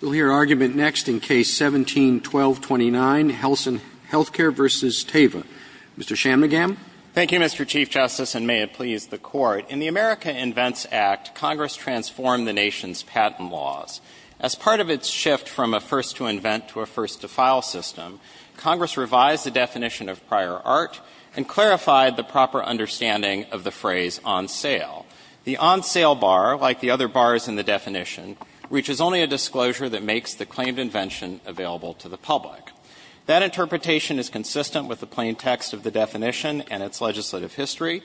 We'll hear argument next in Case 17-1229, Helsinn Healthcare v. Teva. Mr. Chamnagam. Thank you, Mr. Chief Justice, and may it please the Court. In the America Invents Act, Congress transformed the nation's patent laws. As part of its shift from a first-to-invent to a first-to-file system, Congress revised the definition of prior art and clarified the proper understanding of the phrase on sale. The on-sale bar, like the other bars in the definition, reaches only a disclosure that makes the claimed invention available to the public. That interpretation is consistent with the plain text of the definition and its legislative history.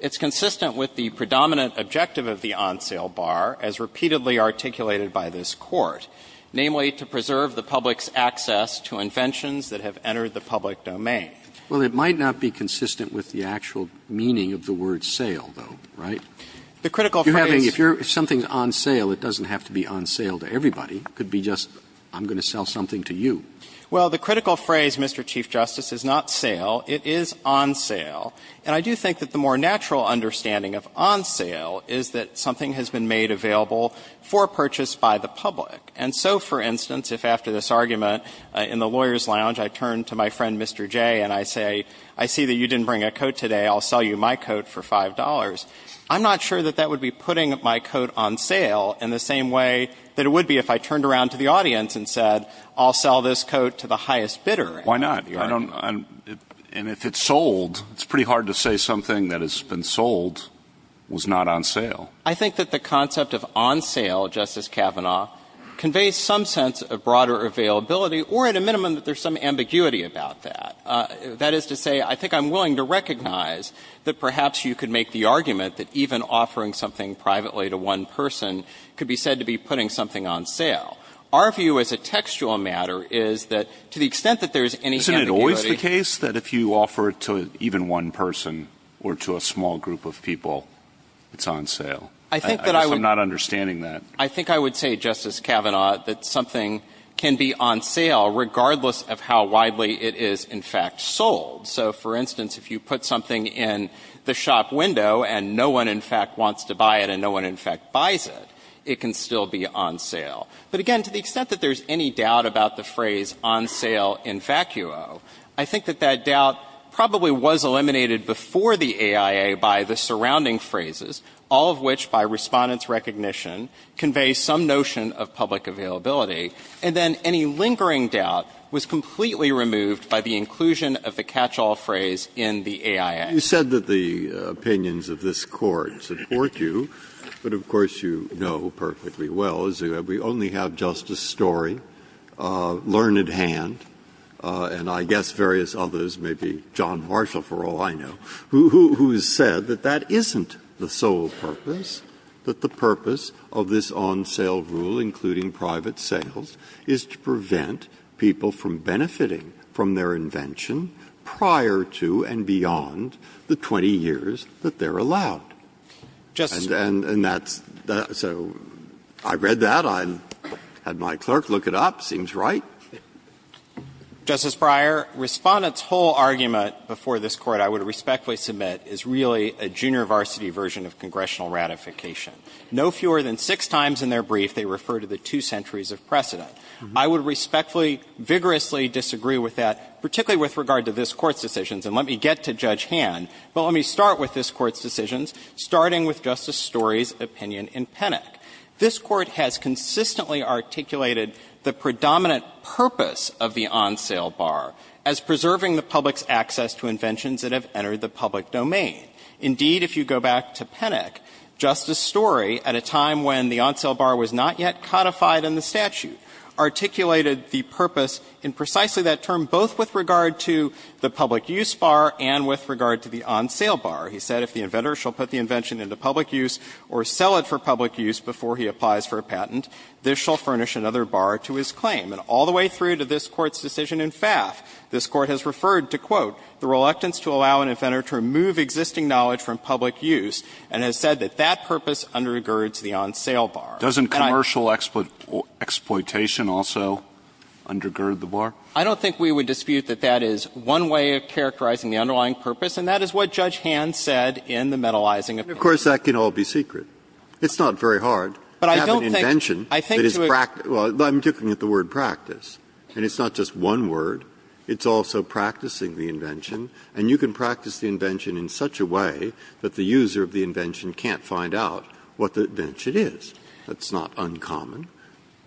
It's consistent with the predominant objective of the on-sale bar, as repeatedly articulated by this Court, namely, to preserve the public's access to inventions that have entered the public domain. Well, it might not be consistent with the actual meaning of the word sale, though, right? The critical phrase You're having, if you're, if something's on sale, it doesn't have to be on sale to everybody. It could be just, I'm going to sell something to you. Well, the critical phrase, Mr. Chief Justice, is not sale. It is on sale. And I do think that the more natural understanding of on sale is that something has been made available for purchase by the public. And so, for instance, if after this argument in the lawyer's lounge, I turn to my friend, Mr. Jay, and I say, I see that you didn't bring a coat for $5,000. I'm not sure that that would be putting my coat on sale in the same way that it would be if I turned around to the audience and said, I'll sell this coat to the highest bidder. Why not? I don't, and if it's sold, it's pretty hard to say something that has been sold was not on sale. I think that the concept of on sale, Justice Kavanaugh, conveys some sense of broader availability, or at a minimum, that there's some ambiguity about that. That is to say, I think I'm willing to recognize that perhaps you could make the argument that even offering something privately to one person could be said to be putting something on sale. Our view as a textual matter is that to the extent that there's any ambiguity ---- Isn't it always the case that if you offer it to even one person or to a small group of people, it's on sale? I think that I would ---- I guess I'm not understanding that. I think I would say, Justice Kavanaugh, that something can be on sale regardless of how widely it is in fact sold. So for instance, if you put something in the shop window and no one in fact wants to buy it and no one in fact buys it, it can still be on sale. But again, to the extent that there's any doubt about the phrase on sale in vacuo, I think that that doubt probably was eliminated before the AIA by the surrounding phrases, all of which, by Respondent's recognition, convey some notion of public availability. And then any lingering doubt was completely removed by the inclusion of the catch-all phrase in the AIA. Breyer. You said that the opinions of this Court support you, but of course you know perfectly well, as we only have Justice Story, Learned Hand, and I guess various others, maybe John Marshall, for all I know, who has said that that isn't the sole purpose, that the purpose of this on-sale rule, including private sales, is to prevent people from benefiting from their invention prior to and beyond the 20 years that they're allowed. And that's the so I read that, I had my clerk look it up, seems right. Justice Breyer, Respondent's whole argument before this Court, I would respectfully submit, is really a junior varsity version of congressional ratification. No fewer than six times in their brief, they refer to the two centuries of precedent. I would respectfully, vigorously disagree with that, particularly with regard to this Court's decisions. And let me get to Judge Hand, but let me start with this Court's decisions, starting with Justice Story's opinion in Penick. This Court has consistently articulated the predominant purpose of the on-sale bar as preserving the public's access to inventions that have entered the public domain. Indeed, if you go back to Penick, Justice Story, at a time when the on-sale bar was not yet codified in the statute, articulated the purpose in precisely that term, both with regard to the public use bar and with regard to the on-sale bar. He said if the inventor shall put the invention into public use or sell it for public use before he applies for a patent, this shall furnish another bar to his claim. And all the way through to this Court's decision in Pfaff, this Court has referred to, quote, the reluctance to allow an inventor to remove existing knowledge from public use, and has said that that purpose undergirds the on-sale bar. Breyer. Doesn't commercial exploitation also undergird the bar? I don't think we would dispute that that is one way of characterizing the underlying purpose, and that is what Judge Hand said in the metalizing opinion. But of course, that can all be secret. It's not very hard to have an invention that is practical. Well, I'm looking at the word practice, and it's not just one word. It's also practicing the invention. And you can practice the invention in such a way that the user of the invention can't find out what the invention is. That's not uncommon.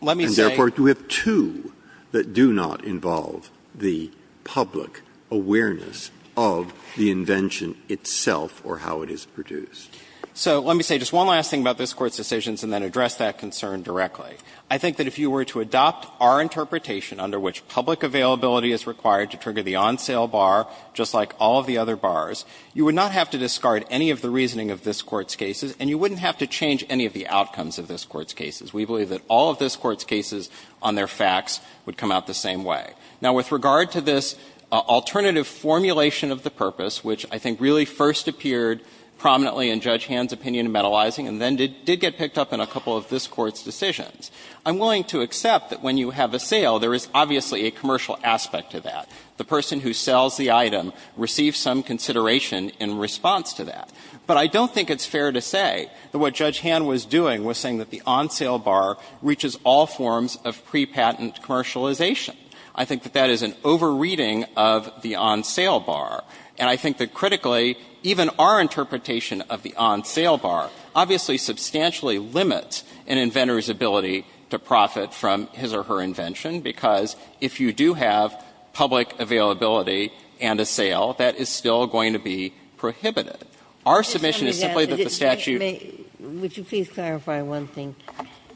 Let me say — And therefore, do we have two that do not involve the public awareness of the invention itself or how it is produced? So let me say just one last thing about this Court's decisions and then address that concern directly. I think that if you were to adopt our interpretation under which public availability is required to trigger the on-sale bar, just like all of the other bars, you would not have to discard any of the reasoning of this Court's cases, and you wouldn't have to change any of the outcomes of this Court's cases. We believe that all of this Court's cases on their facts would come out the same way. Now, with regard to this alternative formulation of the purpose, which I think really first appeared prominently in Judge Hand's opinion in metalizing and then did get picked up in a couple of this Court's decisions, I'm willing to accept that when you have a sale, there is obviously a commercial aspect to that. The person who sells the item receives some consideration in response to that. But I don't think it's fair to say that what Judge Hand was doing was saying that the on-sale bar reaches all forms of prepatent commercialization. I think that that is an over-reading of the on-sale bar. And I think that, critically, even our interpretation of the on-sale bar obviously substantially limits an inventor's ability to profit from his or her invention, because if you do have public availability and a sale, that is still going to be prohibited. Our submission is simply that the statute ---- Ginsburg, would you please clarify one thing?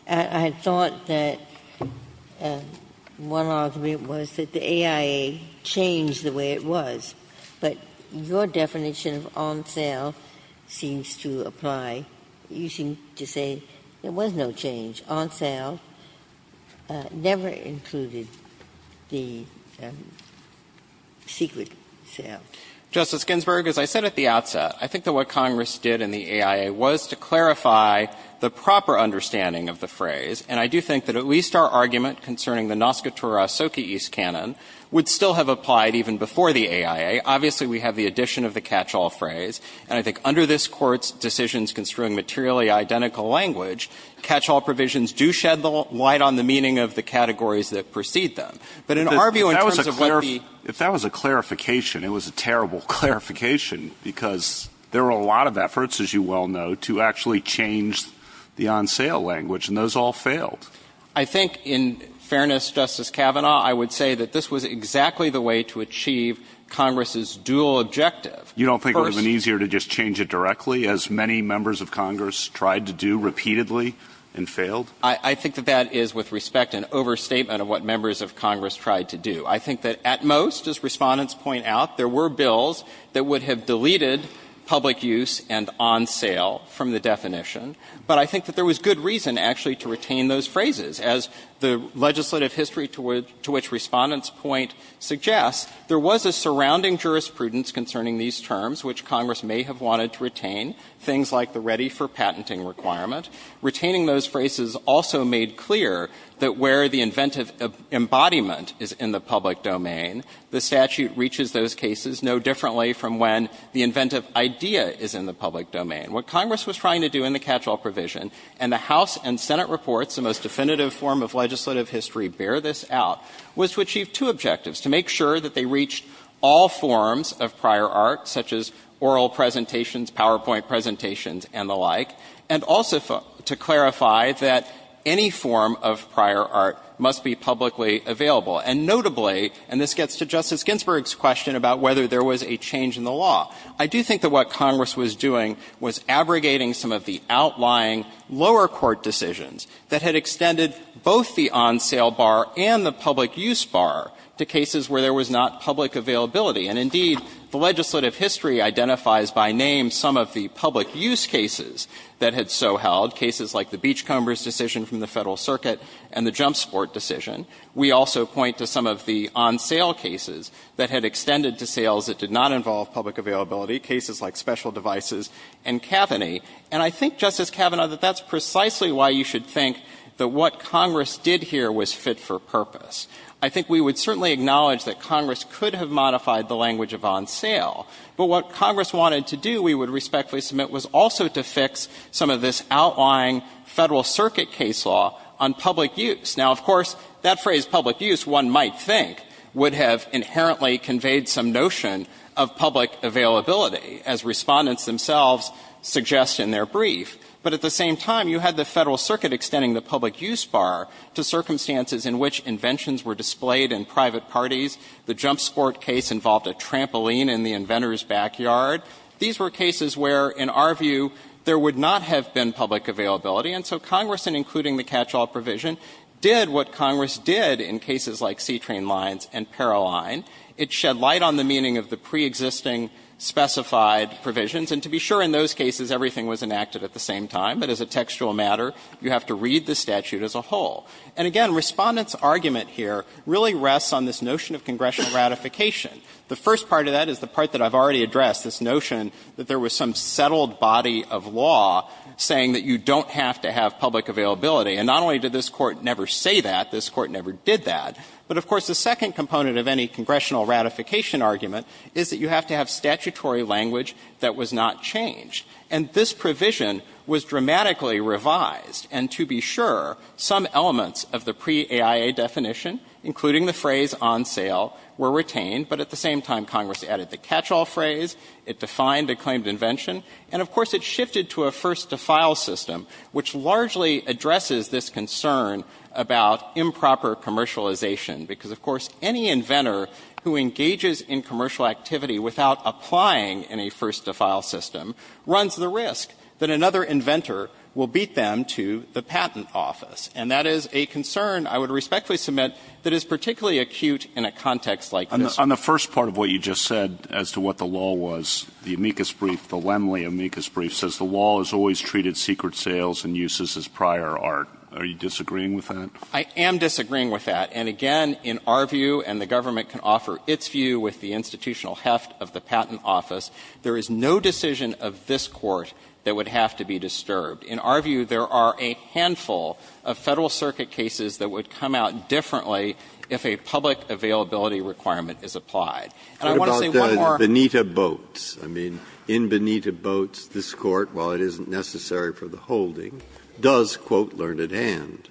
I thought that one argument was that the AIA changed the way it was, but your definition of on-sale seems to apply. You seem to say there was no change. On-sale never included the secret sale. Justice Ginsburg, as I said at the outset, I think that what Congress did in the AIA was to clarify the proper understanding of the phrase. And I do think that at least our argument concerning the Noskotura Soka East canon would still have applied even before the AIA. Obviously, we have the addition of the catch-all phrase. And I think under this Court's decisions construing materially identical language, catch-all provisions do shed light on the meaning of the categories that precede them. But in our view, in terms of what the ---- If that was a clarification, it was a terrible clarification, because there were a lot of efforts, as you well know, to actually change the on-sale language, and those all failed. I think, in fairness, Justice Kavanaugh, I would say that this was exactly the way to achieve Congress's dual objective. You don't think it would have been easier to just change it directly, as many members of Congress tried to do repeatedly and failed? I think that that is, with respect, an overstatement of what members of Congress tried to do. I think that at most, as Respondents point out, there were bills that would have deleted public use and on-sale from the definition. But I think that there was good reason, actually, to retain those phrases, as the terms, which Congress may have wanted to retain, things like the ready for patenting requirement. Retaining those phrases also made clear that where the inventive embodiment is in the public domain, the statute reaches those cases no differently from when the inventive idea is in the public domain. What Congress was trying to do in the catch-all provision, and the House and Senate reports, the most definitive form of legislative history, bear this out, was to achieve two objectives, to make sure that they reached all forms of prior art, such as oral presentations, PowerPoint presentations, and the like, and also to clarify that any form of prior art must be publicly available. And notably, and this gets to Justice Ginsburg's question about whether there was a change in the law, I do think that what Congress was doing was abrogating some of the outlying lower court decisions that had extended both the on-sale bar and the public use bar to cases where there was not public availability. And indeed, the legislative history identifies by name some of the public use cases that had so held, cases like the Beachcombers decision from the Federal Circuit and the jump sport decision. We also point to some of the on-sale cases that had extended to sales that did not involve public availability, cases like special devices and Kavanagh. And I think, Justice Kavanaugh, that that's precisely why you should think that what Congress did here was fit for purpose. I think we would certainly acknowledge that Congress could have modified the language of on-sale, but what Congress wanted to do, we would respectfully submit, was also to fix some of this outlying Federal Circuit case law on public use. Now, of course, that phrase public use, one might think, would have inherently conveyed some notion of public availability, as Respondents themselves suggest in their brief. But at the same time, you had the Federal Circuit extending the public use bar to circumstances in which inventions were displayed in private parties. The jump sport case involved a trampoline in the inventor's backyard. These were cases where, in our view, there would not have been public availability. And so Congress, in including the catch-all provision, did what Congress did in cases like C-Train lines and Paroline. It shed light on the meaning of the preexisting specified provisions. And to be sure, in those cases, everything was enacted at the same time. But as a textual matter, you have to read the statute as a whole. And again, Respondents' argument here really rests on this notion of congressional ratification. The first part of that is the part that I've already addressed, this notion that there was some settled body of law saying that you don't have to have public availability. And not only did this Court never say that, this Court never did that. But of course, the second component of any congressional ratification argument is that you have to have statutory language that was not changed. And this provision was dramatically revised. And to be sure, some elements of the pre-AIA definition, including the phrase on sale, were retained. But at the same time, Congress added the catch-all phrase. It defined a claimed invention. And of course, it shifted to a first-to-file system, which largely addresses this concern about improper commercialization. Because of course, any inventor who engages in commercial activity without applying any first-to-file system runs the risk that another inventor will beat them to the patent office. And that is a concern I would respectfully submit that is particularly acute in a context like this. On the first part of what you just said as to what the law was, the amicus brief, the Lemley amicus brief, says the law has always treated secret sales and uses as prior art. Are you disagreeing with that? I am disagreeing with that. And again, in our view, and the government can offer its view with the institutional heft of the patent office, there is no decision of this Court that would have to be disturbed. In our view, there are a handful of Federal Circuit cases that would come out differently if a public availability requirement is applied. And I want to say one more. Breyer, in Benita Boats, this Court, while it isn't necessary for the holding, does, quote, learn at hand,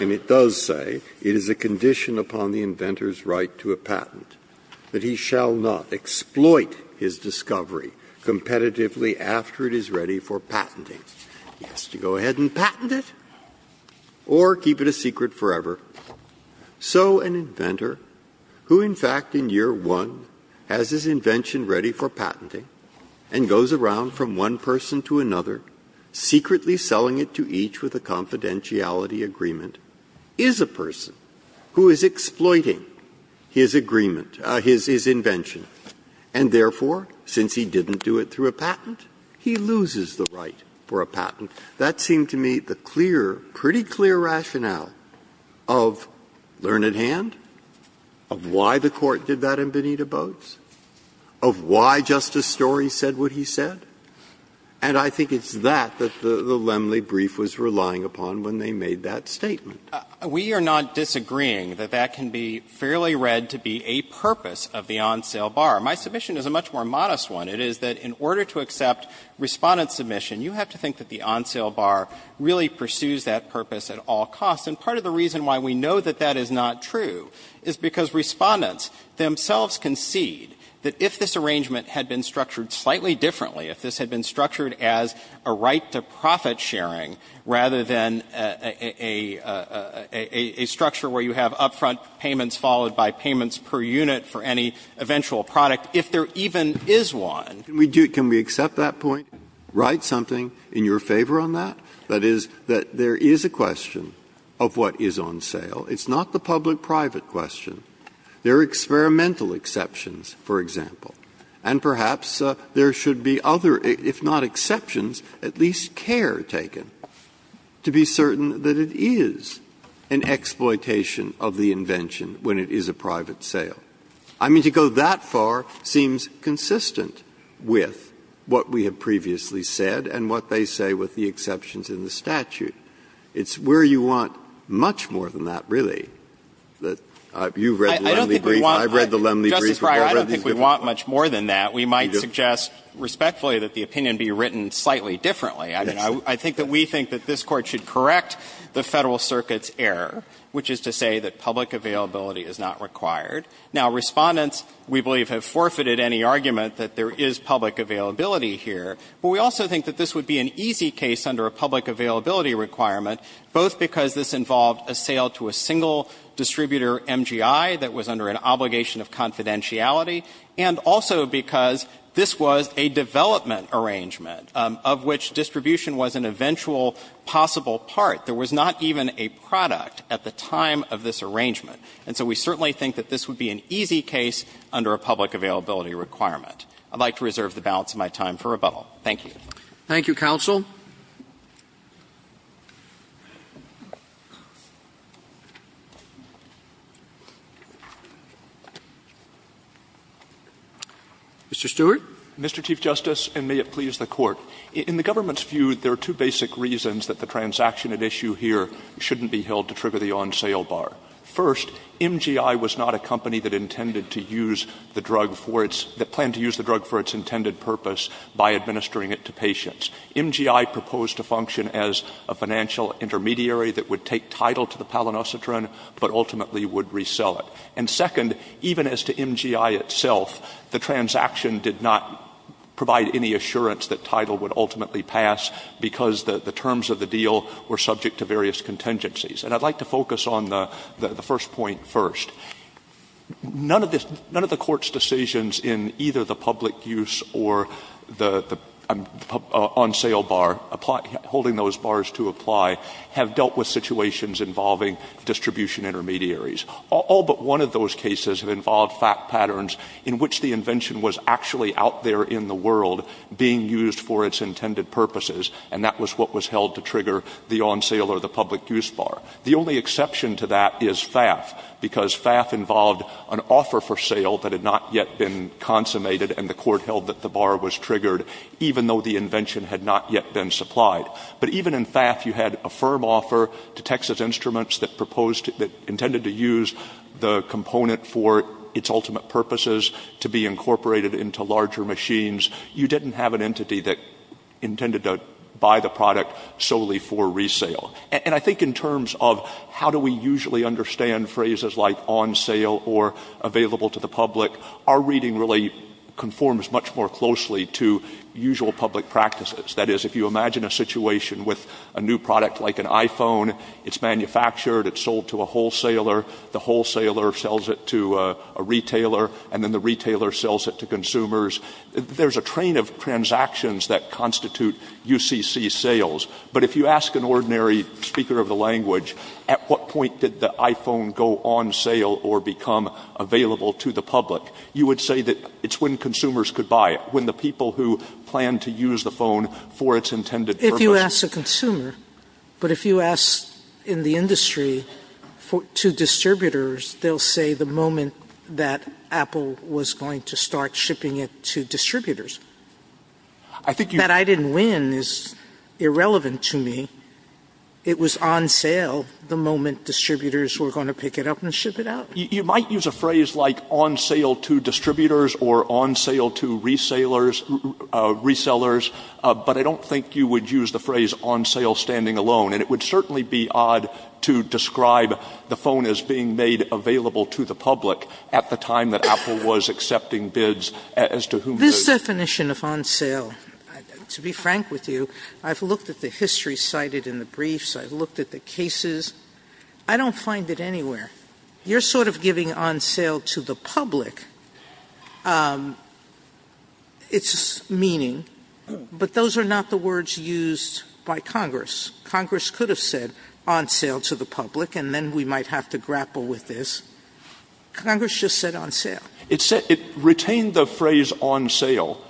and it does say it is a condition upon the inventor's right to a patent that he shall not exploit his discovery competitively after it is ready for patenting. He has to go ahead and patent it or keep it a secret forever. So an inventor, who in fact in year one has his invention ready for patenting and goes around from one person to another, secretly selling it to each with a confidentiality agreement, is a person who is exploiting his agreement, his invention, and therefore, since he didn't do it through a patent, he loses the right for a patent. That seemed to me the clear, pretty clear rationale of learn at hand, of why the Court did that in Benita Boats, of why Justice Story said what he said. And I think it's that that the Lemley brief was relying upon when they made that statement. We are not disagreeing that that can be fairly read to be a purpose of the on-sale bar. My submission is a much more modest one. It is that in order to accept Respondent's submission, you have to think that the on-sale bar really pursues that purpose at all costs. And part of the reason why we know that that is not true is because Respondents themselves concede that if this arrangement had been structured slightly differently, if this had been structured as a right to profit sharing rather than a structure where you have up-front payments followed by payments per unit for any eventual product, if there even is one. Breyer, can we accept that point and write something in your favor on that? That is, that there is a question of what is on sale. It's not the public-private question. There are experimental exceptions, for example. And perhaps there should be other, if not exceptions, at least care taken to be certain that it is an exploitation of the invention when it is a private sale. I mean, to go that far seems consistent with what we have previously said and what they say with the exceptions in the statute. It's where you want much more than that, really. You've read the Lemley brief. I've read the Lemley brief. I've read these briefs. Fisherman, I don't think we want much more than that. We might suggest respectfully that the opinion be written slightly differently. I mean, I think that we think that this Court should correct the Federal Circuit's error, which is to say that public availability is not required. Now, Respondents, we believe, have forfeited any argument that there is public availability here, but we also think that this would be an easy case under a public availability requirement, both because this involved a sale to a single distributor, MGI, that was under an obligation of confidentiality, and also because this was a development arrangement of which distribution was an eventual possible part. There was not even a product at the time of this arrangement. And so we certainly think that this would be an easy case under a public availability requirement. I'd like to reserve the balance of my time for rebuttal. Thank you. Roberts, Thank you, counsel. Mr. Stewart. Stewart. Mr. Chief Justice, and may it please the Court. In the government's view, there are two basic reasons that the transaction at issue here shouldn't be held to trigger the on-sale bar. First, MGI was not a company that intended to use the drug for its — that planned to use the drug for its intended purpose by administering it to patients. MGI proposed to function as a financial intermediary that would take title to the palinocetrine, but ultimately would resell it. And second, even as to MGI itself, the transaction did not provide any assurance that title would ultimately pass because the terms of the deal were subject to various contingencies. And I'd like to focus on the first point first. None of the Court's decisions in either the public use or the on-sale bar, holding those bars to apply, have dealt with situations involving distribution intermediaries. All but one of those cases have involved fact patterns in which the invention was actually out there in the world being used for its intended purposes, and that was what was held to trigger the on-sale or the public use bar. The only exception to that is FAF, because FAF involved an offer for sale that had not yet been consummated, and the Court held that the bar was triggered, even though the invention had not yet been supplied. But even in FAF, you had a firm offer to Texas Instruments that proposed — that intended to use the component for its ultimate purposes, to be incorporated into larger machines. You didn't have an entity that intended to buy the product solely for resale. And I think in terms of how do we usually understand phrases like on-sale or available to the public, our reading really conforms much more closely to usual public practices. That is, if you imagine a situation with a new product like an iPhone, it's manufactured, it's sold to a wholesaler, the wholesaler sells it to a retailer, and then the retailer sells it to consumers, there's a train of transactions that constitute UCC sales. But if you ask an ordinary speaker of the language, at what point did the iPhone go on sale or become available to the public, you would say that it's when consumers could buy it, when the people who plan to use the phone for its intended purpose — JUSTICE SOTOMAYOR — in the industry to distributors, they'll say the moment that Apple was going to start shipping it to distributors. That I didn't win is irrelevant to me. It was on sale the moment distributors were going to pick it up and ship it out. MR. CLEMENT You might use a phrase like on-sale to distributors or on-sale to resellers, but I don't think you would use the phrase on-sale standing alone. And it would certainly be odd to describe the phone as being made available to the public at the time that Apple was accepting bids as to whom — JUSTICE SOTOMAYOR — This definition of on-sale, to be frank with you, I've looked at the history cited in the briefs, I've looked at the cases. I don't find it anywhere. You're sort of giving on-sale to the public its meaning, but those are not the words used by Congress. Congress could have said on-sale to the public, and then we might have to grapple with this. Congress just said on-sale. MR. CLEMENT It retained the phrase on-sale,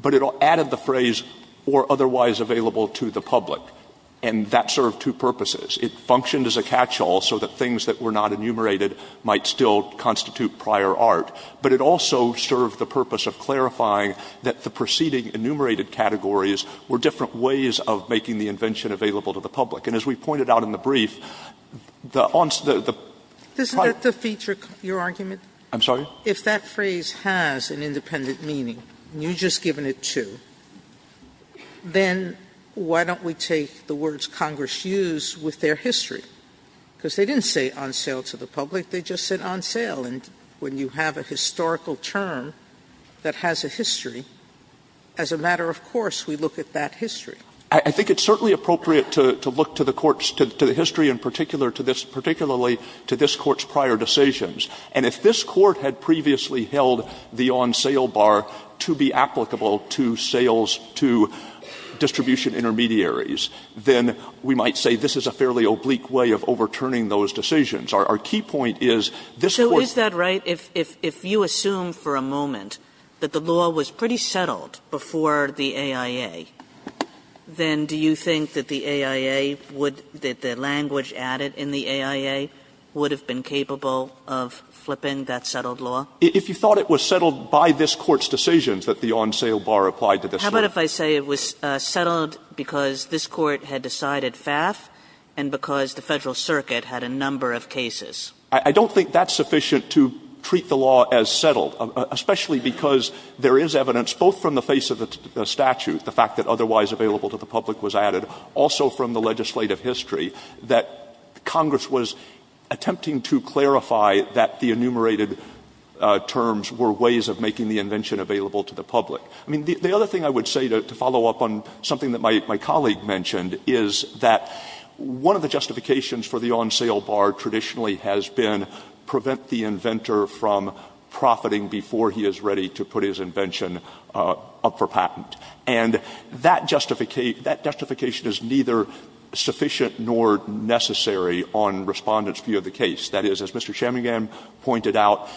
but it added the phrase or otherwise available to the public, and that served two purposes. It functioned as a catch-all so that things that were not enumerated might still constitute prior art, but it also served the purpose of clarifying that the preceding enumerated categories were different ways of making the invention available to the public. And as we pointed out in the brief, the on — JUSTICE SOTOMAYOR — Isn't that the feature of your argument? MR. CLEMENT I'm sorry? JUSTICE SOTOMAYOR — If that phrase has an independent meaning, and you've just given it to, then why don't we take the words Congress used with their history? Because they didn't say on-sale to the public, they just said on-sale, and when you have a historical term that has a history, as a matter of course, we look at that history. CLEMENT I think it's certainly appropriate to look to the Court's — to the history in particular, to this — particularly to this Court's prior decisions. And if this Court had previously held the on-sale bar to be applicable to sales to distribution intermediaries, then we might say this is a fairly oblique way of overturning those decisions. Our key point is this Court's — KAGAN If you assume for a moment that the law was pretty settled before the AIA, then do you think that the AIA would — that the language added in the AIA would have been capable of flipping that settled law? CLEMENT If you thought it was settled by this Court's decisions that the on-sale bar applied to this law — KAGAN How about if I say it was settled because this Court had decided FAF, and because the Federal Circuit had a number of cases? CLEMENT I don't think that's sufficient to treat the law as settled, especially because there is evidence, both from the face of the statute, the fact that otherwise available to the public was added, also from the legislative history, that Congress was attempting to clarify that the enumerated terms were ways of making the invention available to the public. I mean, the other thing I would say to follow up on something that my colleague mentioned is that one of the justifications for the on-sale bar traditionally has been prevent the inventor from profiting before he is ready to put his invention up for patent. And that justification is neither sufficient nor necessary on Respondent's view of the case. That is, as Mr. Chamigan pointed out,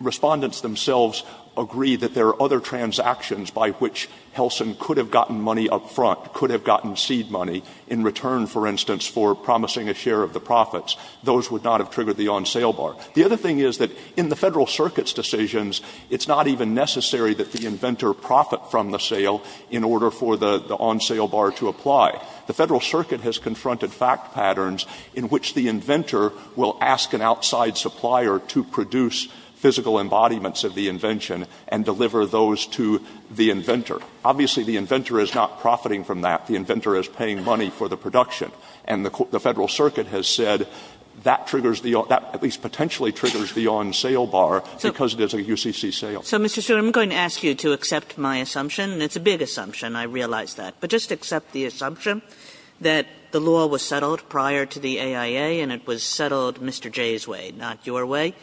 Respondents themselves agree that there are other transactions by which Helson could have gotten money up front, could have gotten seed money in return, for instance, for promising a share of the profits. Those would not have triggered the on-sale bar. The other thing is that in the Federal Circuit's decisions, it's not even necessary that the inventor profit from the sale in order for the on-sale bar to apply. The Federal Circuit has confronted fact patterns in which the inventor will ask an outside supplier to produce physical embodiments of the invention and deliver those to the inventor. Obviously, the inventor is not profiting from that. The inventor is paying money for the production. And the Federal Circuit has said that triggers the on – that at least potentially triggers the on-sale bar because it is a UCC sale. Kagan. Kagan. So, Mr. Stewart, I'm going to ask you to accept my assumption, and it's a big assumption, I realize that. But just accept the assumption that the law was settled prior to the AIA and it was settled Mr. Jay's way, not your way.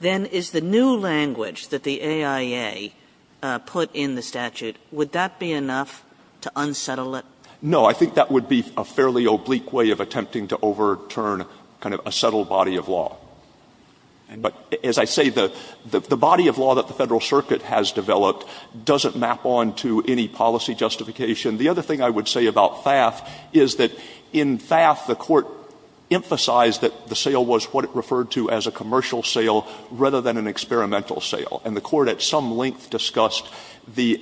Then is the new language that the AIA put in the statute, would that be enough to unsettle it? Stewart. No, I think that would be a fairly oblique way of attempting to overturn kind of a settled body of law. But as I say, the body of law that the Federal Circuit has developed doesn't map on to any policy justification. The other thing I would say about FAF is that in FAF, the Court emphasized that the sale was what it referred to as a commercial sale rather than an experimental sale. And the Court at some length discussed the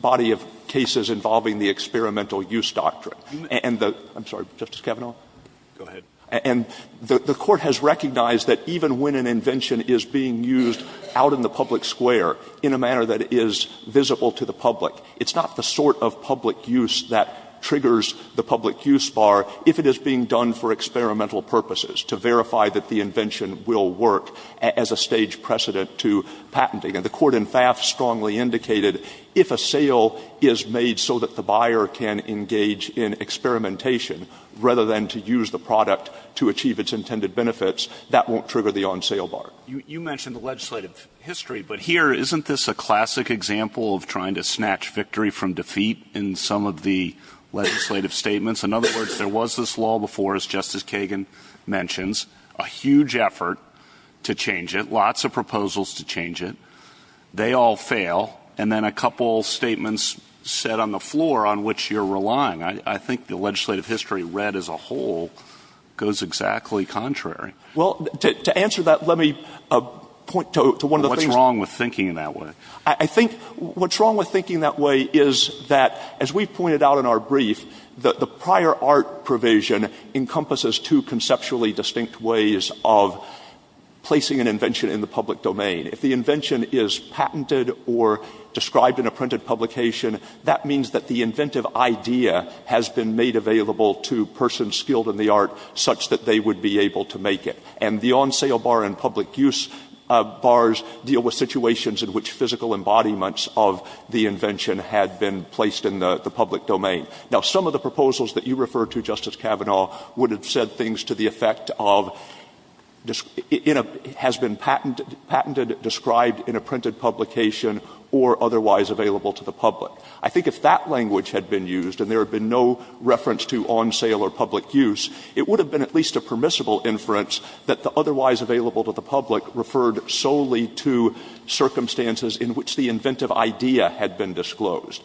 body of cases involving the experimental use doctrine. And the — I'm sorry, Justice Kavanaugh? Go ahead. And the Court has recognized that even when an invention is being used out in the public square in a manner that is visible to the public, it's not the sort of public use that triggers the public use bar if it is being done for experimental purposes to verify that the invention will work as a stage precedent to patenting. And the Court in FAF strongly indicated if a sale is made so that the buyer can engage in experimentation rather than to use the product to achieve its intended benefits, that won't trigger the on-sale bar. You mentioned the legislative history, but here, isn't this a classic example of trying to snatch victory from defeat in some of the legislative statements? In other words, there was this law before, as Justice Kagan mentions, a huge effort to change it, lots of proposals to change it. They all fail, and then a couple statements set on the floor on which you're relying. I think the legislative history read as a whole goes exactly contrary. Well, to answer that, let me point to one of the things — What's wrong with thinking that way? I think what's wrong with thinking that way is that, as we've pointed out in our brief, the prior art provision encompasses two conceptually distinct ways of placing an invention in the public domain. If the invention is patented or described in a printed publication, that means that the inventive idea has been made available to persons skilled in the art such that they would be able to make it. And the on-sale bar and public use bars deal with situations in which physical embodiments of the invention had been placed in the public domain. Now, some of the proposals that you refer to, Justice Kavanaugh, would have said things to the effect of — it has been patented, described in a printed publication or otherwise available to the public. I think if that language had been used and there had been no reference to on-sale or public use, it would have been at least a permissible inference that the otherwise available to the public referred solely to circumstances in which the inventive idea had been disclosed.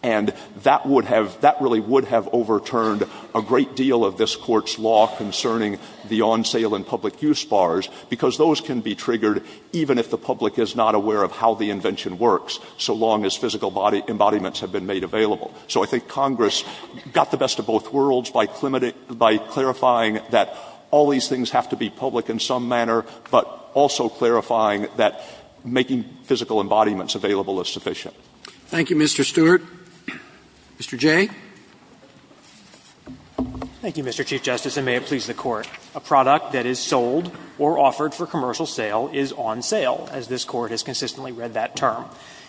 And that would have — that really would have overturned a great deal of this Court's law concerning the on-sale and public use bars, because those can be triggered even if the public is not aware of how the invention works, so long as physical embodiments have been made available. So I think Congress got the best of both worlds by clarifying that all these things have to be public in some manner, but also clarifying that making physical embodiments available is sufficient. Thank you, Mr. Stewart. Mr. Jay. Thank you, Mr. Chief Justice, and may it please the Court. A product that is sold or offered for commercial sale is on sale, as this Court has consistently read that term.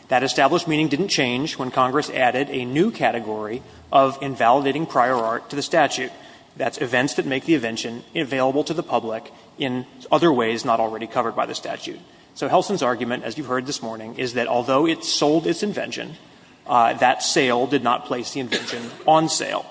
That established meaning didn't change when Congress added a new category of invalidating prior art to the statute. That's events that make the invention available to the public in other ways not already covered by the statute. So Helson's argument, as you've heard this morning, is that although it sold its invention, that sale did not place the invention on sale.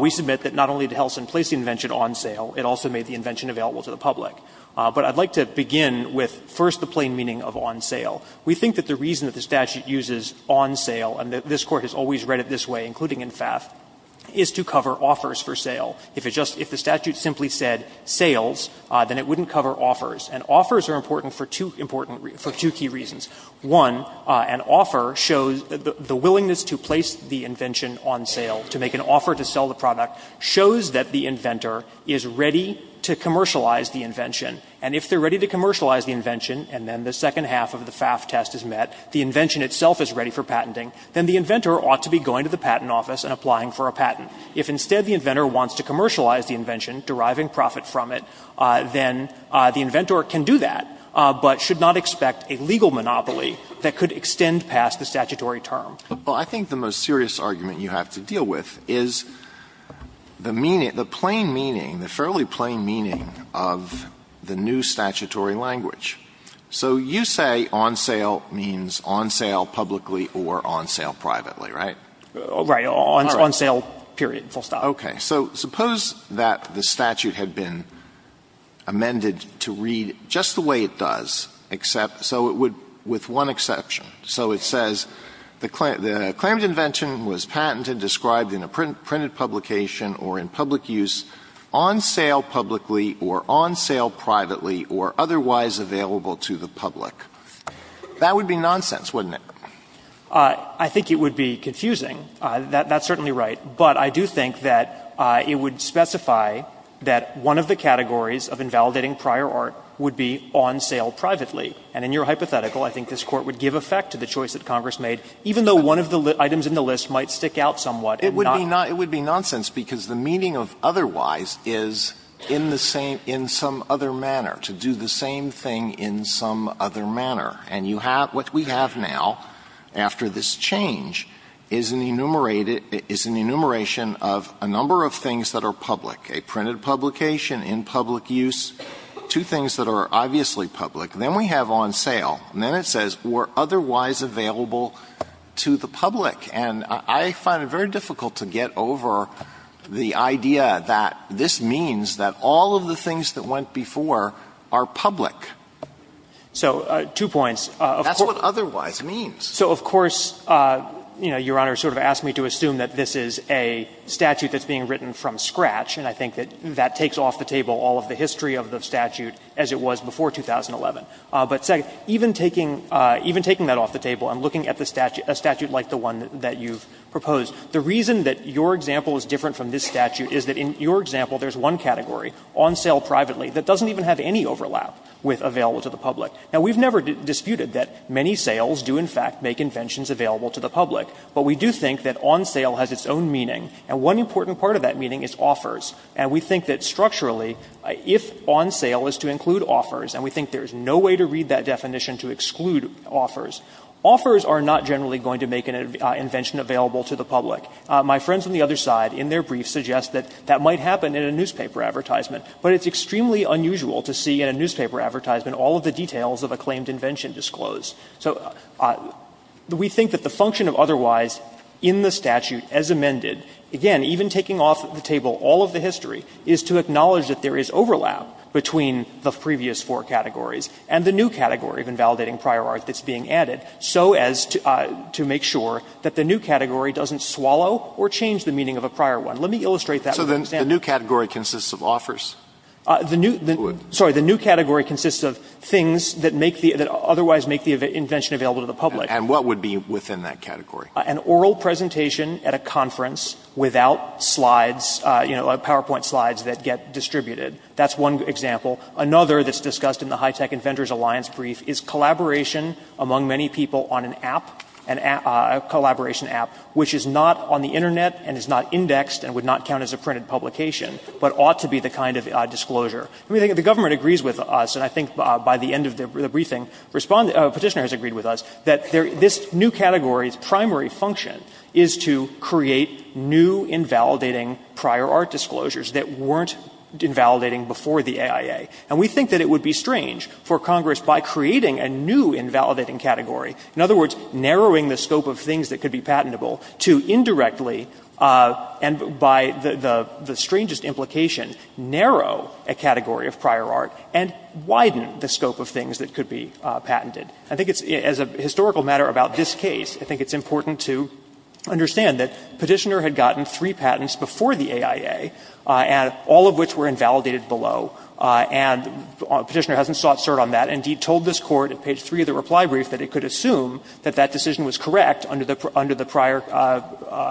We submit that not only did Helson place the invention on sale, it also made the invention available to the public. But I'd like to begin with first the plain meaning of on sale. We think that the reason that the statute uses on sale, and this Court has always read it this way, including in FAF, is to cover offers for sale. If it just — if the statute simply said sales, then it wouldn't cover offers. And offers are important for two important — for two key reasons. One, an offer shows — the willingness to place the invention on sale, to make an offer to sell the product, shows that the inventor is ready to commercialize the invention. And if they're ready to commercialize the invention, and then the second half of the FAF test is met, the invention itself is ready for patenting, then the inventor ought to be going to the patent office and applying for a patent. If instead the inventor wants to commercialize the invention, deriving profit from it, then the inventor can do that, but should not expect a legal monopoly that could extend past the statutory term. Alitoson Well, I think the most serious argument you have to deal with is the meaning — the plain meaning, the fairly plain meaning of the new statutory language. So you say on sale means on sale publicly or on sale privately, right? Gershengorn Right. On sale, period, full stop. Alitoson Okay. So suppose that the statute had been amended to read just the way it does, except — so it would — with one exception. So it says, the — the Claremont invention was patented, described in a printed publication or in public use, on sale publicly or on sale privately or otherwise available to the public. That would be nonsense, wouldn't it? Gershengorn I think it would be confusing. That's certainly right. But I do think that it would specify that one of the categories of invalidating prior art would be on sale privately. And in your hypothetical, I think this Court would give effect to the choice that Congress made, even though one of the items in the list might stick out somewhat and not — Alitoson It would be nonsense, because the meaning of otherwise is in the same — in some other manner, to do the same thing in some other manner. And you have — what we have now, after this change, is an enumerated — is an enumeration of a number of things that are public, a printed publication, in public use, two things that are obviously public. Then we have on sale. And then it says, or otherwise available to the public. And I find it very difficult to get over the idea that this means that all of the things that went before are public. So two points. Alitoson That's what otherwise means. Jay So, of course, you know, Your Honor sort of asked me to assume that this is a statute that's being written from scratch, and I think that that takes off the table all of the history of the statute as it was before 2011. But second, even taking — even taking that off the table and looking at the statute — a statute like the one that you've proposed, the reason that your example is different from this statute is that in your example there's one category, on sale privately, that doesn't even have any overlap with available to the public. Now, we've never disputed that many sales do, in fact, make inventions available to the public. But we do think that on sale has its own meaning. And one important part of that meaning is offers. And we think that structurally, if on sale is to include offers, and we think there is no way to read that definition to exclude offers, offers are not generally going to make an invention available to the public. My friends on the other side, in their brief, suggest that that might happen in a newspaper advertisement, but it's extremely unusual to see in a newspaper advertisement all of the details of a claimed invention disclosed. So we think that the function of otherwise in the statute as amended, again, even taking off the table all of the history, is to acknowledge that there is overlap between the previous four categories and the new category of invalidating prior art that's being added, so as to make sure that the new category doesn't swallow or change the meaning of a prior one. Let me illustrate that with an example. Alito, do you agree that the new category consists of offers? The new category consists of things that make the otherwise make the invention available to the public. And what would be within that category? An oral presentation at a conference without slides, you know, PowerPoint slides that get distributed. That's one example. Another that's discussed in the Hitech Inventors Alliance brief is collaboration indexed and would not count as a printed publication, but ought to be the kind of disclosure. I mean, the government agrees with us, and I think by the end of the briefing, Respondent or Petitioner has agreed with us, that this new category's primary function is to create new invalidating prior art disclosures that weren't invalidating before the AIA. And we think that it would be strange for Congress, by creating a new invalidating category, in other words, narrowing the scope of things that could be patentable, to indirectly, and by the strangest implication, narrow a category of prior art and widen the scope of things that could be patented. I think it's, as a historical matter about this case, I think it's important to understand that Petitioner had gotten three patents before the AIA, and all of which were invalidated below. And Petitioner hasn't sought cert on that, and he told this Court at page 3 of the reply brief that it could assume that that decision was correct under the prior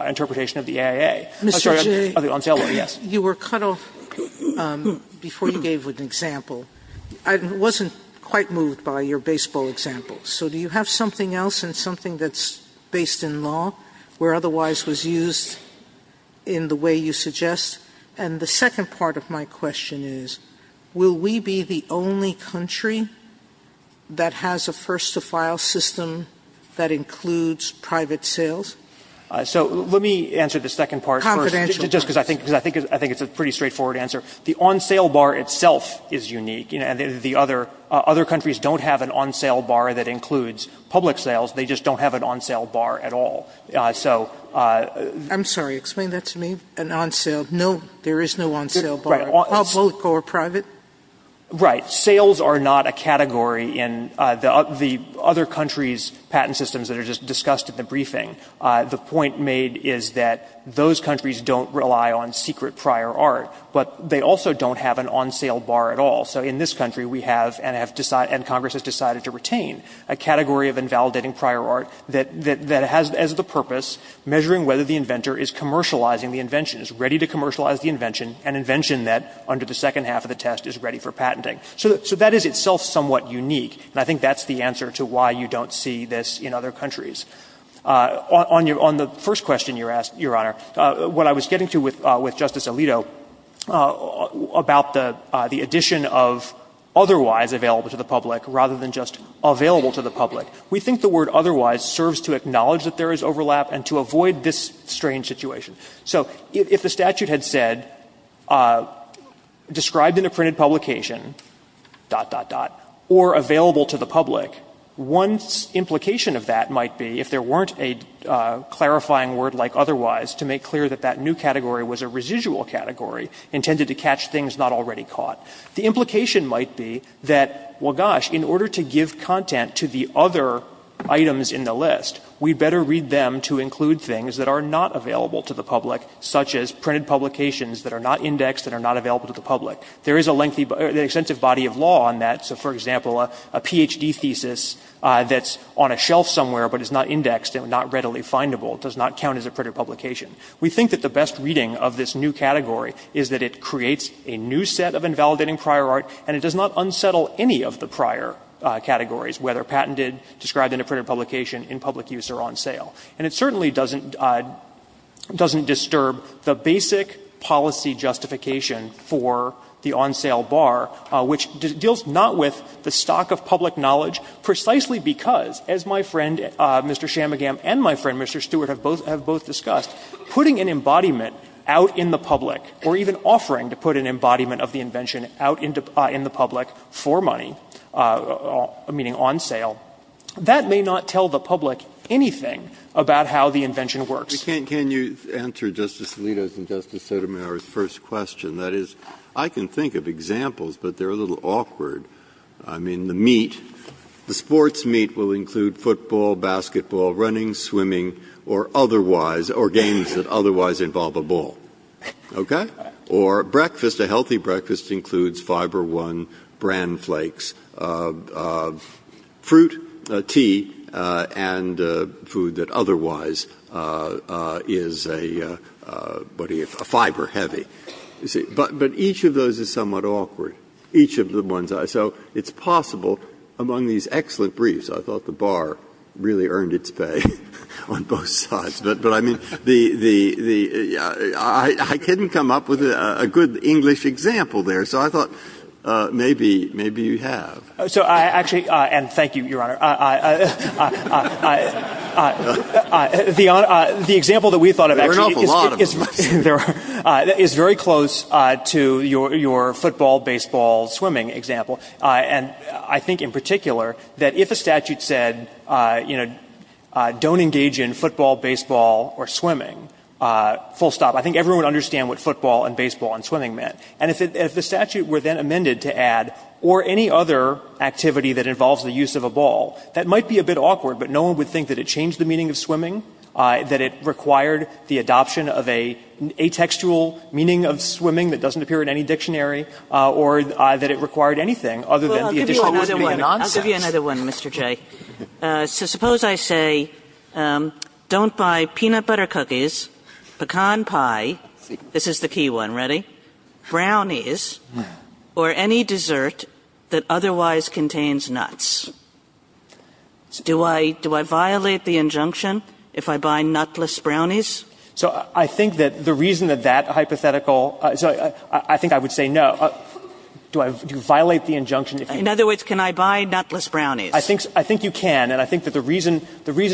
interpretation of the AIA. I'm sorry, on sale, yes. Sotomayor, you were cut off before you gave an example. I wasn't quite moved by your baseball example. So do you have something else, and something that's based in law, where otherwise was used in the way you suggest? And the second part of my question is, will we be the only country that has a first-to-file system that includes private sales? So let me answer the second part first. Confidential. Just because I think it's a pretty straightforward answer. The on-sale bar itself is unique. The other countries don't have an on-sale bar that includes public sales. They just don't have an on-sale bar at all. So the other countries don't have an on-sale bar at all. I'm sorry, explain that to me. An on-sale. No, there is no on-sale bar, public or private. Right. Sales are not a category in the other countries' patent systems that are just discussed in the briefing. The point made is that those countries don't rely on secret prior art, but they also don't have an on-sale bar at all. So in this country, we have, and Congress has decided to retain, a category of invalidating prior art that has as the purpose measuring whether the inventor is commercializing the invention, is ready to commercialize the invention, an invention that, under the second half of the test, is ready for patenting. So that is itself somewhat unique, and I think that's the answer to why you don't see this in other countries. On the first question you asked, Your Honor, what I was getting to with Justice Alito about the addition of otherwise available to the public rather than just available to the public, we think the word otherwise serves to acknowledge that there is overlap and to avoid this strange situation. So if the statute had said, described in a printed publication, dot, dot, dot, or available to the public, one implication of that might be, if there weren't a clarifying word like otherwise to make clear that that new category was a residual category intended to catch things not already caught, the implication might be that, well, gosh, in order to give content to the other items in the list, we'd better read them to include things that are not available to the public, such as printed publications that are not indexed and are not available to the public. There is an extensive body of law on that. So, for example, a Ph.D. thesis that's on a shelf somewhere but is not indexed and not readily findable does not count as a printed publication. We think that the best reading of this new category is that it creates a new set of invalidating prior art, and it does not unsettle any of the prior categories, whether patented, described in a printed publication, in public use, or on sale. And it certainly doesn't disturb the basic policy justification for the on-sale bar, which deals not with the stock of public knowledge, precisely because, as my friend, Mr. Shamagam, and my friend, Mr. Stewart, have both discussed, putting an embodiment out in the public, or even offering to put an embodiment of the invention out in the public for money, meaning on sale, that may not tell the public anything about how the invention works. Breyer. Can you answer Justice Alito's and Justice Sotomayor's first question? That is, I can think of examples, but they're a little awkward. I mean, the meat, the sports meat will include football, basketball, running, swimming, or otherwise, or games that otherwise involve a ball. Okay? Or breakfast, a healthy breakfast includes Fiber One, Bran Flakes, fruit, tea, and food that otherwise is a, what do you, a fiber heavy. But each of those is somewhat awkward, each of the ones. So it's possible, among these excellent briefs, I thought the bar really earned its pay on both sides. But I mean, the, I couldn't come up with a good English example there. So I thought, maybe, maybe you have. So I actually, and thank you, Your Honor. The example that we thought of actually is very close to your football, baseball, swimming example, and I think in particular that if a statute said, you know, don't engage in football, baseball, or swimming, full stop, I think everyone would understand what football and baseball and swimming meant. And if the statute were then amended to add, or any other activity that involves the use of a ball, that might be a bit awkward, but no one would think that it changed the meaning of swimming, that it required the adoption of an atextual meaning of swimming that doesn't appear in any dictionary, or that it required anything other than the additional meaning of nonsense. Kagan. I'll give you another one, Mr. Jay. So suppose I say, don't buy peanut butter cookies, pecan pie, this is the key one, ready, brownies, or any dessert that otherwise contains nuts. Do I violate the injunction if I buy nutless brownies? So I think that the reason that that hypothetical, so I think I would say no. Do I violate the injunction if you? In other words, can I buy nutless brownies? I think you can, and I think that the reason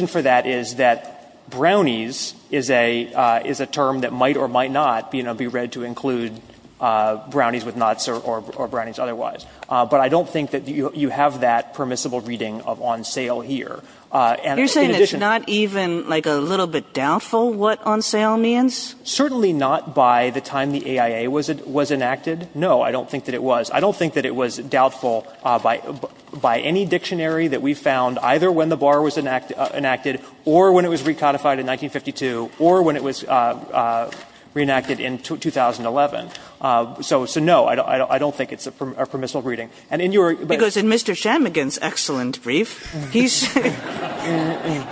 for that is that brownies is a term that might or might not be read to include brownies with nuts or brownies otherwise. But I don't think that you have that permissible reading of on sale here. You're saying it's not even like a little bit doubtful what on sale means? Certainly not by the time the AIA was enacted. No, I don't think that it was. I don't think that it was doubtful by any dictionary that we found either when the bar was enacted or when it was recodified in 1952 or when it was reenacted in 2011. So no, I don't think it's a permissible reading. And in your region, but Mr. Kagan's excellent brief, he's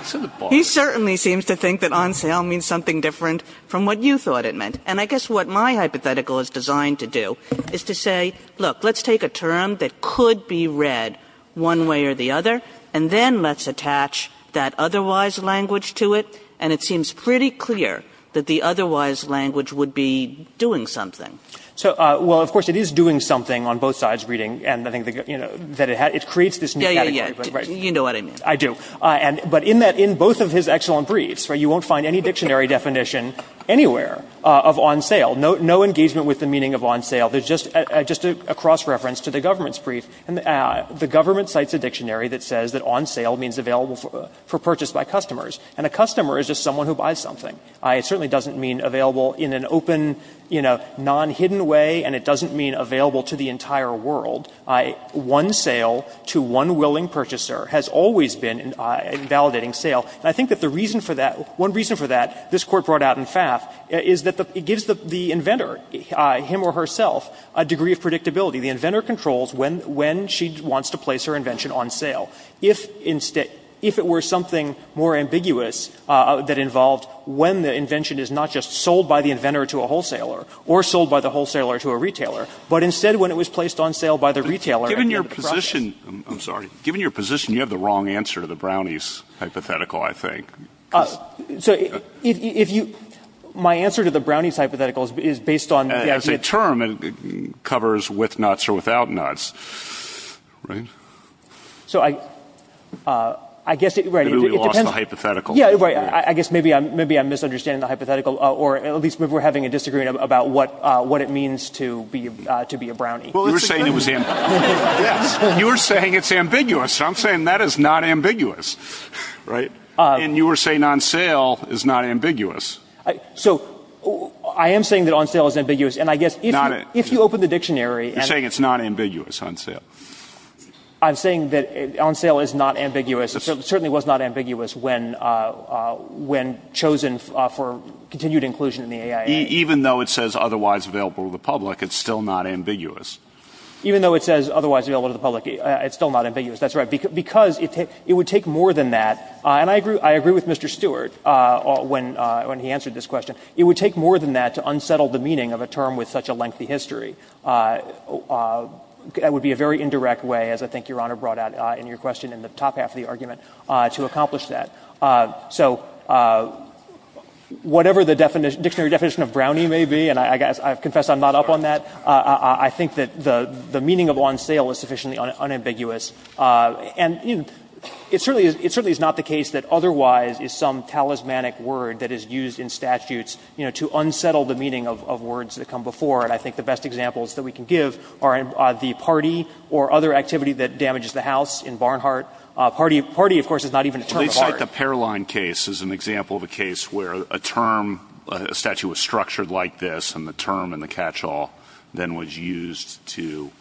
certainly seems to think that on sale means something different from what you thought it meant. And I guess what my hypothetical is designed to do is to say, look, let's take a term that could be read one way or the other, and then let's attach that otherwise language to it. And it seems pretty clear that the otherwise language would be doing something. So, well, of course, it is doing something on both sides, reading, and I think that it creates this new category. Yeah, yeah, yeah, you know what I mean. I do. But in that, in both of his excellent briefs, right, you won't find any dictionary definition anywhere of on sale. No engagement with the meaning of on sale. There's just a cross-reference to the government's brief. The government cites a dictionary that says that on sale means available for purchase by customers, and a customer is just someone who buys something. It certainly doesn't mean available in an open, you know, non-hidden way, and it doesn't mean available to the entire world. One sale to one willing purchaser has always been a validating sale. And I think that the reason for that, one reason for that, this Court brought out in FAF, is that it gives the inventor, him or herself, a degree of predictability. The inventor controls when she wants to place her invention on sale. If instead, if it were something more ambiguous that involved when the invention is not just sold by the inventor to a wholesaler or sold by the wholesaler to a retailer, but instead when it was placed on sale by the retailer at the end of the process. I'm sorry, given your position, you have the wrong answer to the brownies hypothetical, I think. So, if you, my answer to the brownies hypothetical is based on... As a term, it covers with nuts or without nuts, right? So I, I guess it, right, it depends... Maybe we lost the hypothetical. Yeah, right. I guess maybe I'm, maybe I'm misunderstanding the hypothetical, or at least maybe we're having a disagreement about what, what it means to be, to be a brownie. You were saying it was him. Yes. You were saying it's ambiguous. I'm saying that is not ambiguous, right? And you were saying on sale is not ambiguous. So I am saying that on sale is ambiguous. And I guess if you open the dictionary... You're saying it's not ambiguous, on sale. I'm saying that on sale is not ambiguous. It certainly was not ambiguous when, when chosen for continued inclusion in the AIA. Even though it says otherwise available to the public, it's still not ambiguous. Even though it says otherwise available to the public, it's still not ambiguous. That's right. Because it would take more than that. And I agree, I agree with Mr. Stewart when, when he answered this question. It would take more than that to unsettle the meaning of a term with such a lengthy history. That would be a very indirect way, as I think Your Honor brought out in your question in the top half of the argument, to accomplish that. So whatever the definition, dictionary definition of brownie may be, and I guess I've confessed I'm not up on that, I think that the meaning of on sale is sufficiently unambiguous. And it certainly is not the case that otherwise is some talismanic word that is used in statutes, you know, to unsettle the meaning of words that come before. And I think the best examples that we can give are the party or other activity that damages the house in Barnhart. Party, of course, is not even a term of art. Well, they cite the Perline case as an example of a case where a term, a statute was structured like this, and the term in the catch-all then was used to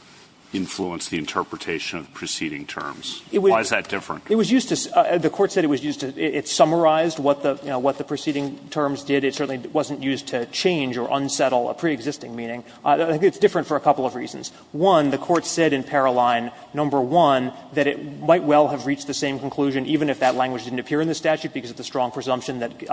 influence the interpretation of the preceding terms. Why is that different? It was used to the Court said it was used to, it summarized what the, you know, what the preceding terms did. It certainly wasn't used to change or unsettle a preexisting meaning. It's different for a couple of reasons. One, the Court said in Perline, number one, that it might well have reached the same conclusion even if that language didn't appear in the statute because of the strong presumption that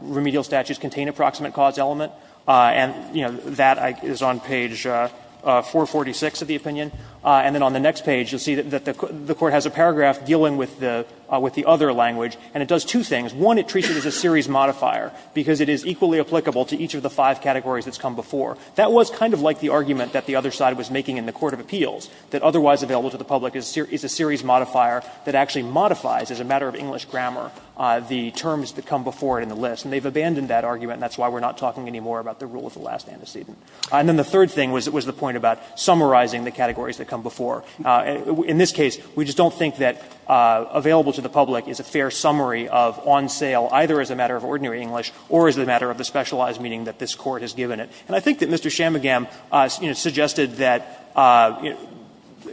remedial statutes contain a proximate cause element. And, you know, that is on page 446 of the opinion. And then on the next page, you'll see that the Court has a paragraph dealing with the other language, and it does two things. One, it treats it as a series modifier because it is equally applicable to each of the five categories that's come before. That was kind of like the argument that the other side was making in the court of appeals, that otherwise available to the public is a series modifier that actually modifies as a matter of English grammar the terms that come before it in the list. And they've abandoned that argument, and that's why we're not talking anymore about the rule of the last antecedent. And then the third thing was the point about summarizing the categories that come before. In this case, we just don't think that available to the public is a fair summary of on sale, either as a matter of ordinary English or as a matter of the specialized meaning that this Court has given it. And I think that Mr. Shamagam, you know, suggested that, you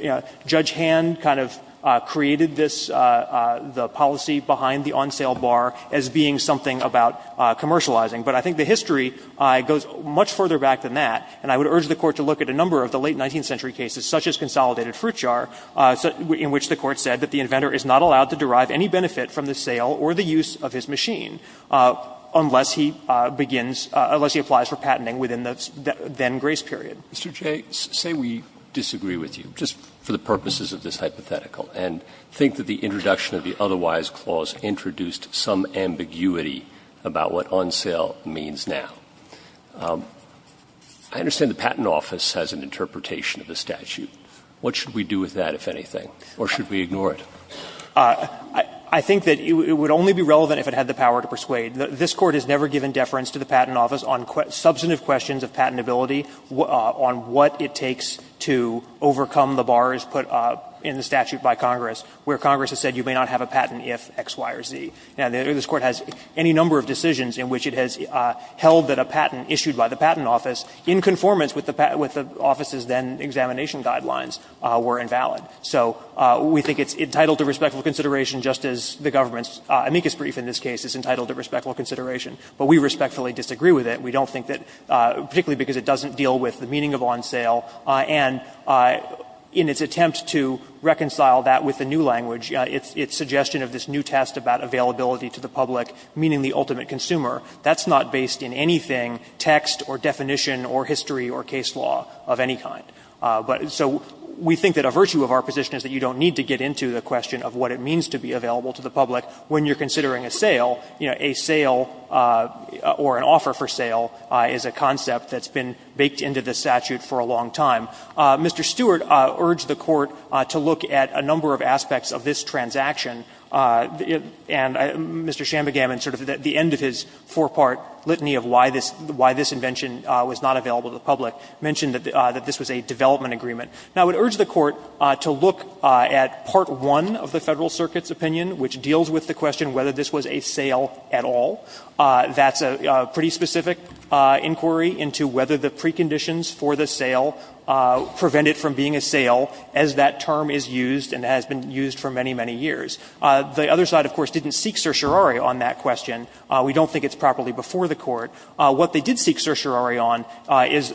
know, Judge Hand kind of created this, the policy behind the on-sale bar as being something about commercializing. But I think the history goes much further back than that, and I would urge the Court to look at a number of the late 19th century cases, such as Consolidated Fruit Jar, in which the Court said that the inventor is not allowed to derive any benefit from the sale or the use of his machine unless he begins, unless he applies for patenting within the then grace period. Mr. Jay, say we disagree with you, just for the purposes of this hypothetical, and think that the introduction of the otherwise clause introduced some ambiguity about what on sale means now. I understand the Patent Office has an interpretation of the statute. What should we do with that, if anything, or should we ignore it? I think that it would only be relevant if it had the power to persuade. This Court has never given deference to the Patent Office on substantive questions of patentability, on what it takes to overcome the bars put in the statute by Congress, where Congress has said you may not have a patent if X, Y, or Z. Now, this Court has any number of decisions in which it has held that a patent issued by the Patent Office in conformance with the patent, with the Office's then examination guidelines, were invalid. So we think it's entitled to respectful consideration, just as the government's amicus brief in this case is entitled to respectful consideration. But we respectfully disagree with it. We don't think that, particularly because it doesn't deal with the meaning of on sale. And in its attempt to reconcile that with the new language, its suggestion of this new test about availability to the public, meaning the ultimate consumer, that's not based in anything, text or definition or history or case law of any kind. So we think that a virtue of our position is that you don't need to get into the question of what it means to be available to the public when you're considering a sale, you don't need to get into the question of whether or not a sale is a concept that's been baked into the statute for a long time. Mr. Stewart urged the Court to look at a number of aspects of this transaction. And Mr. Shambhagam, in sort of the end of his four-part litany of why this invention was not available to the public, mentioned that this was a development agreement. Now, I would urge the Court to look at part one of the Federal Circuit's opinion, which deals with the question whether this was a sale at all. That's a pretty specific inquiry into whether the preconditions for the sale prevent it from being a sale, as that term is used and has been used for many, many years. The other side, of course, didn't seek certiorari on that question. We don't think it's properly before the Court. What they did seek certiorari on is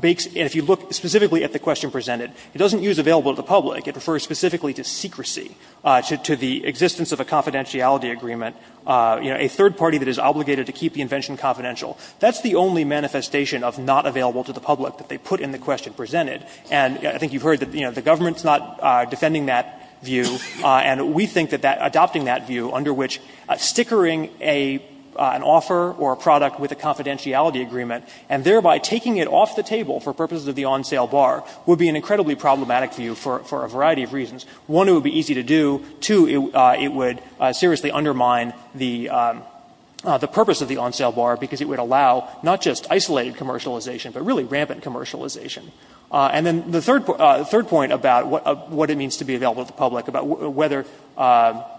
bakes – if you look specifically at the question presented, it doesn't use available to the public. It refers specifically to secrecy, to the existence of a confidentiality agreement. You know, a third party that is obligated to keep the invention confidential. That's the only manifestation of not available to the public that they put in the question presented. And I think you've heard that, you know, the government's not defending that view. And we think that adopting that view, under which stickering an offer or a product with a confidentiality agreement, and thereby taking it off the table for purposes of the on-sale bar, would be an incredibly problematic view for a variety of reasons. One, it would be easy to do. Two, it would seriously undermine the purpose of the on-sale bar, because it would allow not just isolated commercialization, but really rampant commercialization. And then the third point about what it means to be available to the public, about whether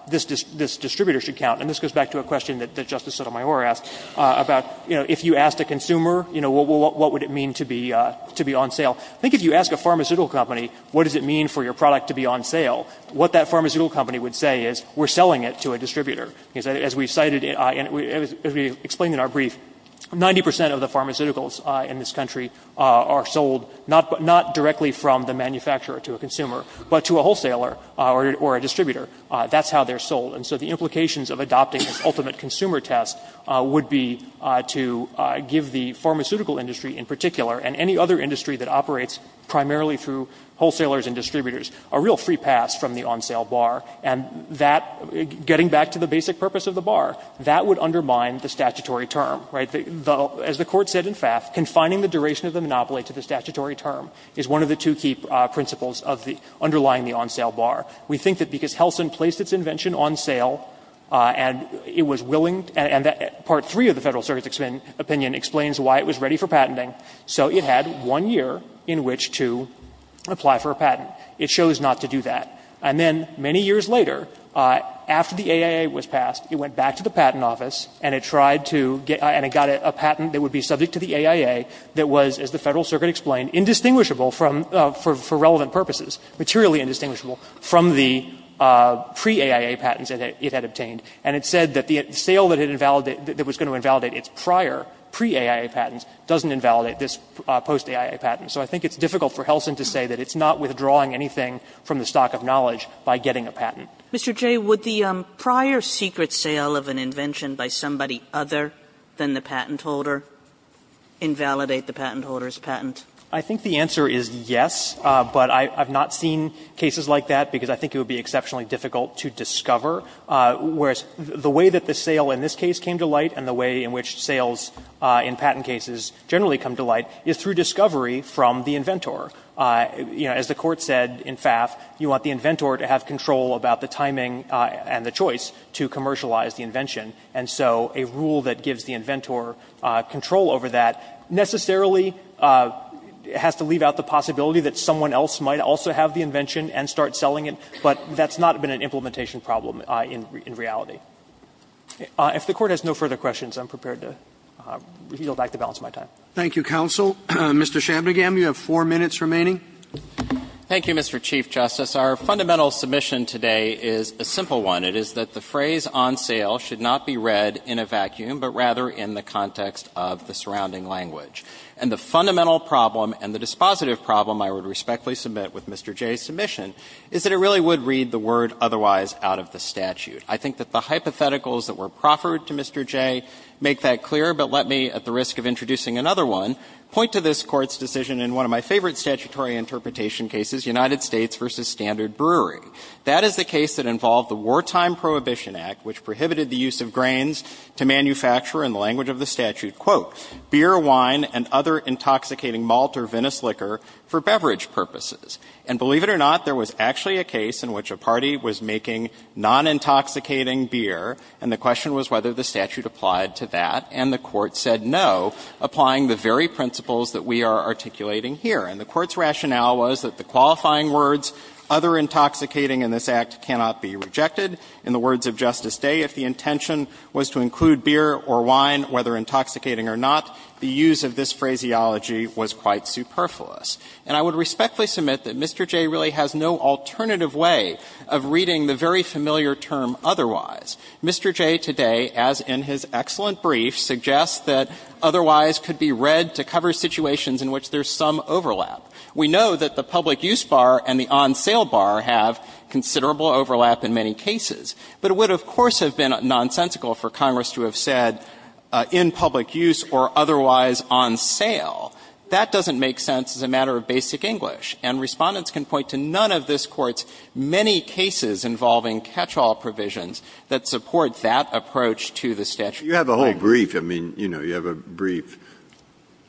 this distributor should count, and this goes back to a question that Justice Sotomayor asked, about, you know, if you asked a consumer, you know, what would it mean to be on sale, I think if you ask a pharmaceutical company, what does it mean for your product to be on sale, what that pharmaceutical company would say is, we're selling it to a distributor. As we cited, and as we explained in our brief, 90 percent of the pharmaceuticals in this country are sold not directly from the manufacturer to a consumer, but to a wholesaler or a distributor. That's how they're sold. And so the implications of adopting this ultimate consumer test would be to give the pharmaceutical industry in particular, and any other industry that operates primarily through wholesalers and distributors, a real free pass from the on-sale bar, and that, getting back to the basic purpose of the bar, that would undermine the statutory term, right? As the Court said in FAFT, confining the duration of the monopoly to the statutory term is one of the two key principles of the underlying the on-sale bar. We think that because Helsin placed its invention on sale, and it was willing to, and that part three of the Federal Circuit's opinion explains why it was ready for patenting. So it had one year in which to apply for a patent. It chose not to do that. And then many years later, after the AIA was passed, it went back to the Patent Office and it tried to get, and it got a patent that would be subject to the AIA that was, as the Federal Circuit explained, indistinguishable from, for relevant purposes, materially indistinguishable from the pre-AIA patents that it had obtained. And it said that the sale that it invalidated, that was going to invalidate its prior, pre-AIA patents, doesn't invalidate this post-AIA patent. So I think it's difficult for Helsin to say that it's not withdrawing anything from the stock of knowledge by getting a patent. Kagan. Kagan. Mr. Jay, would the prior secret sale of an invention by somebody other than the patent holder invalidate the patent holder's patent? Jay. I think the answer is yes, but I've not seen cases like that because I think it would be exceptionally difficult to discover. Whereas the way that the sale in this case came to light and the way in which sales in patent cases generally come to light is through discovery from the inventor. You know, as the Court said in FAF, you want the inventor to have control about the timing and the choice to commercialize the invention. And so a rule that gives the inventor control over that necessarily has to leave out the possibility that someone else might also have the invention and start selling it, but that's not been an implementation problem in reality. If the Court has no further questions, I'm prepared to reveal back the balance of my time. Thank you, counsel. Mr. Shabnagam, you have four minutes remaining. Thank you, Mr. Chief Justice. Our fundamental submission today is a simple one. It is that the phrase on sale should not be read in a vacuum, but rather in the context of the surrounding language. And the fundamental problem and the dispositive problem I would respectfully submit with Mr. Jay's submission is that it really would read the word otherwise out of the statute. I think that the hypotheticals that were proffered to Mr. Jay make that clear, but let me, at the risk of introducing another one, point to this Court's decision in one of my favorite statutory interpretation cases, United States v. Standard Brewery. That is the case that involved the Wartime Prohibition Act, which prohibited the use of grains to manufacture in the language of the statute, quote, And believe it or not, there was actually a case in which a party was making non-intoxicating beer, and the question was whether the statute applied to that, and the Court said no, applying the very principles that we are articulating here. And the Court's rationale was that the qualifying words, other intoxicating in this Act cannot be rejected. In the words of Justice Day, if the intention was to include beer or wine, whether intoxicating or not, the use of this phraseology was quite superfluous. And I would respectfully submit that Mr. Jay really has no alternative way of reading the very familiar term otherwise. Mr. Jay today, as in his excellent brief, suggests that otherwise could be read to cover situations in which there is some overlap. We know that the public use bar and the on-sale bar have considerable overlap in many cases, but it would, of course, have been nonsensical for Congress to have said in public use or otherwise on sale. That doesn't make sense as a matter of basic English, and Respondents can point to none of this Court's many cases involving catch-all provisions that support that approach to the statute. Breyer. Breyer. You have a whole brief. I mean, you know, you have a brief.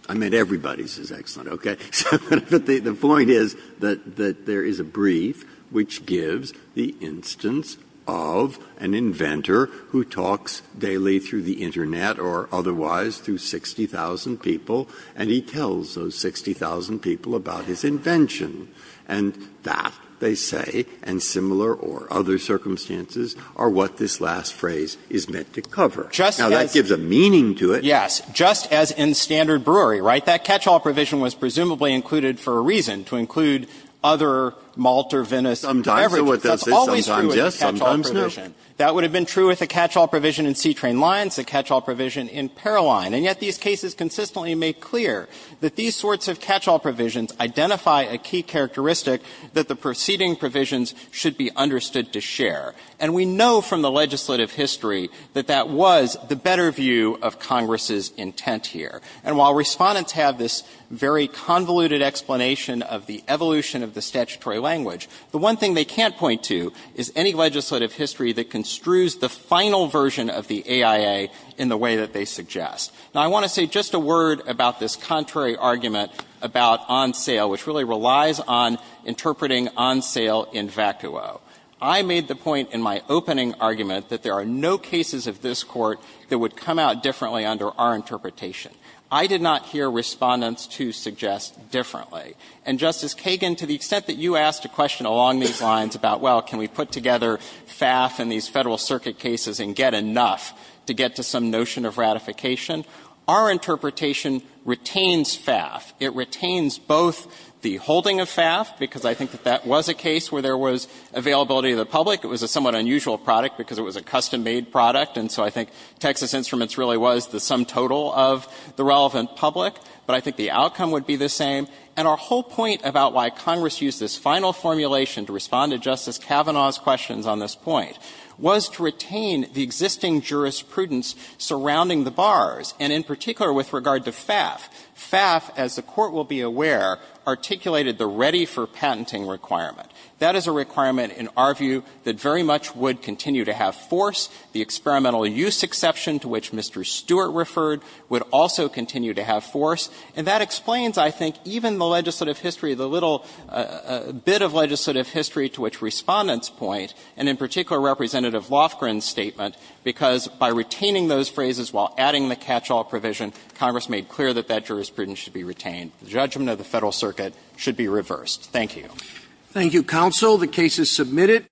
I mean, everybody's is excellent, okay? But the point is that there is a brief which gives the instance of an inventor who talks daily through the Internet or otherwise through 60,000 people, and he tells those 60,000 people about his invention. And that, they say, and similar or other circumstances, are what this last phrase is meant to cover. Now, that gives a meaning to it. Yes. Just as in standard brewery, right? That catch-all provision was presumably included for a reason, to include other malt or Venice beverages. That's always true of the catch-all provision. Sometimes, yes. Sometimes, no. And that would have been true with the catch-all provision in C-Train Lines, the catch-all provision in Paroline. And yet, these cases consistently make clear that these sorts of catch-all provisions identify a key characteristic that the preceding provisions should be understood to share. And we know from the legislative history that that was the better view of Congress's intent here. And while Respondents have this very convoluted explanation of the evolution of the statutory language, the one thing they can't point to is any legislative history that construes the final version of the AIA in the way that they suggest. Now, I want to say just a word about this contrary argument about on sale, which really relies on interpreting on sale in vacuo. I made the point in my opening argument that there are no cases of this Court that would come out differently under our interpretation. I did not hear Respondents 2 suggest differently. And, Justice Kagan, to the extent that you asked a question along these lines about, well, can we put together FAF in these Federal Circuit cases and get enough to get to some notion of ratification, our interpretation retains FAF. It retains both the holding of FAF, because I think that that was a case where there was availability of the public. It was a somewhat unusual product because it was a custom-made product. And so I think Texas Instruments really was the sum total of the relevant public. But I think the outcome would be the same. And our whole point about why Congress used this final formulation to respond to Justice Kavanaugh's questions on this point was to retain the existing jurisprudence surrounding the bars, and in particular with regard to FAF. FAF, as the Court will be aware, articulated the ready for patenting requirement. That is a requirement in our view that very much would continue to have force. The experimental use exception to which Mr. Stewart referred would also continue to have force. And that explains, I think, even the legislative history, the little bit of legislative history to which Respondent's point, and in particular Representative Lofgren's statement, because by retaining those phrases while adding the catch-all provision, Congress made clear that that jurisprudence should be retained. The judgment of the Federal Circuit should be reversed. Thank you. Roberts. Thank you, counsel. The case is submitted.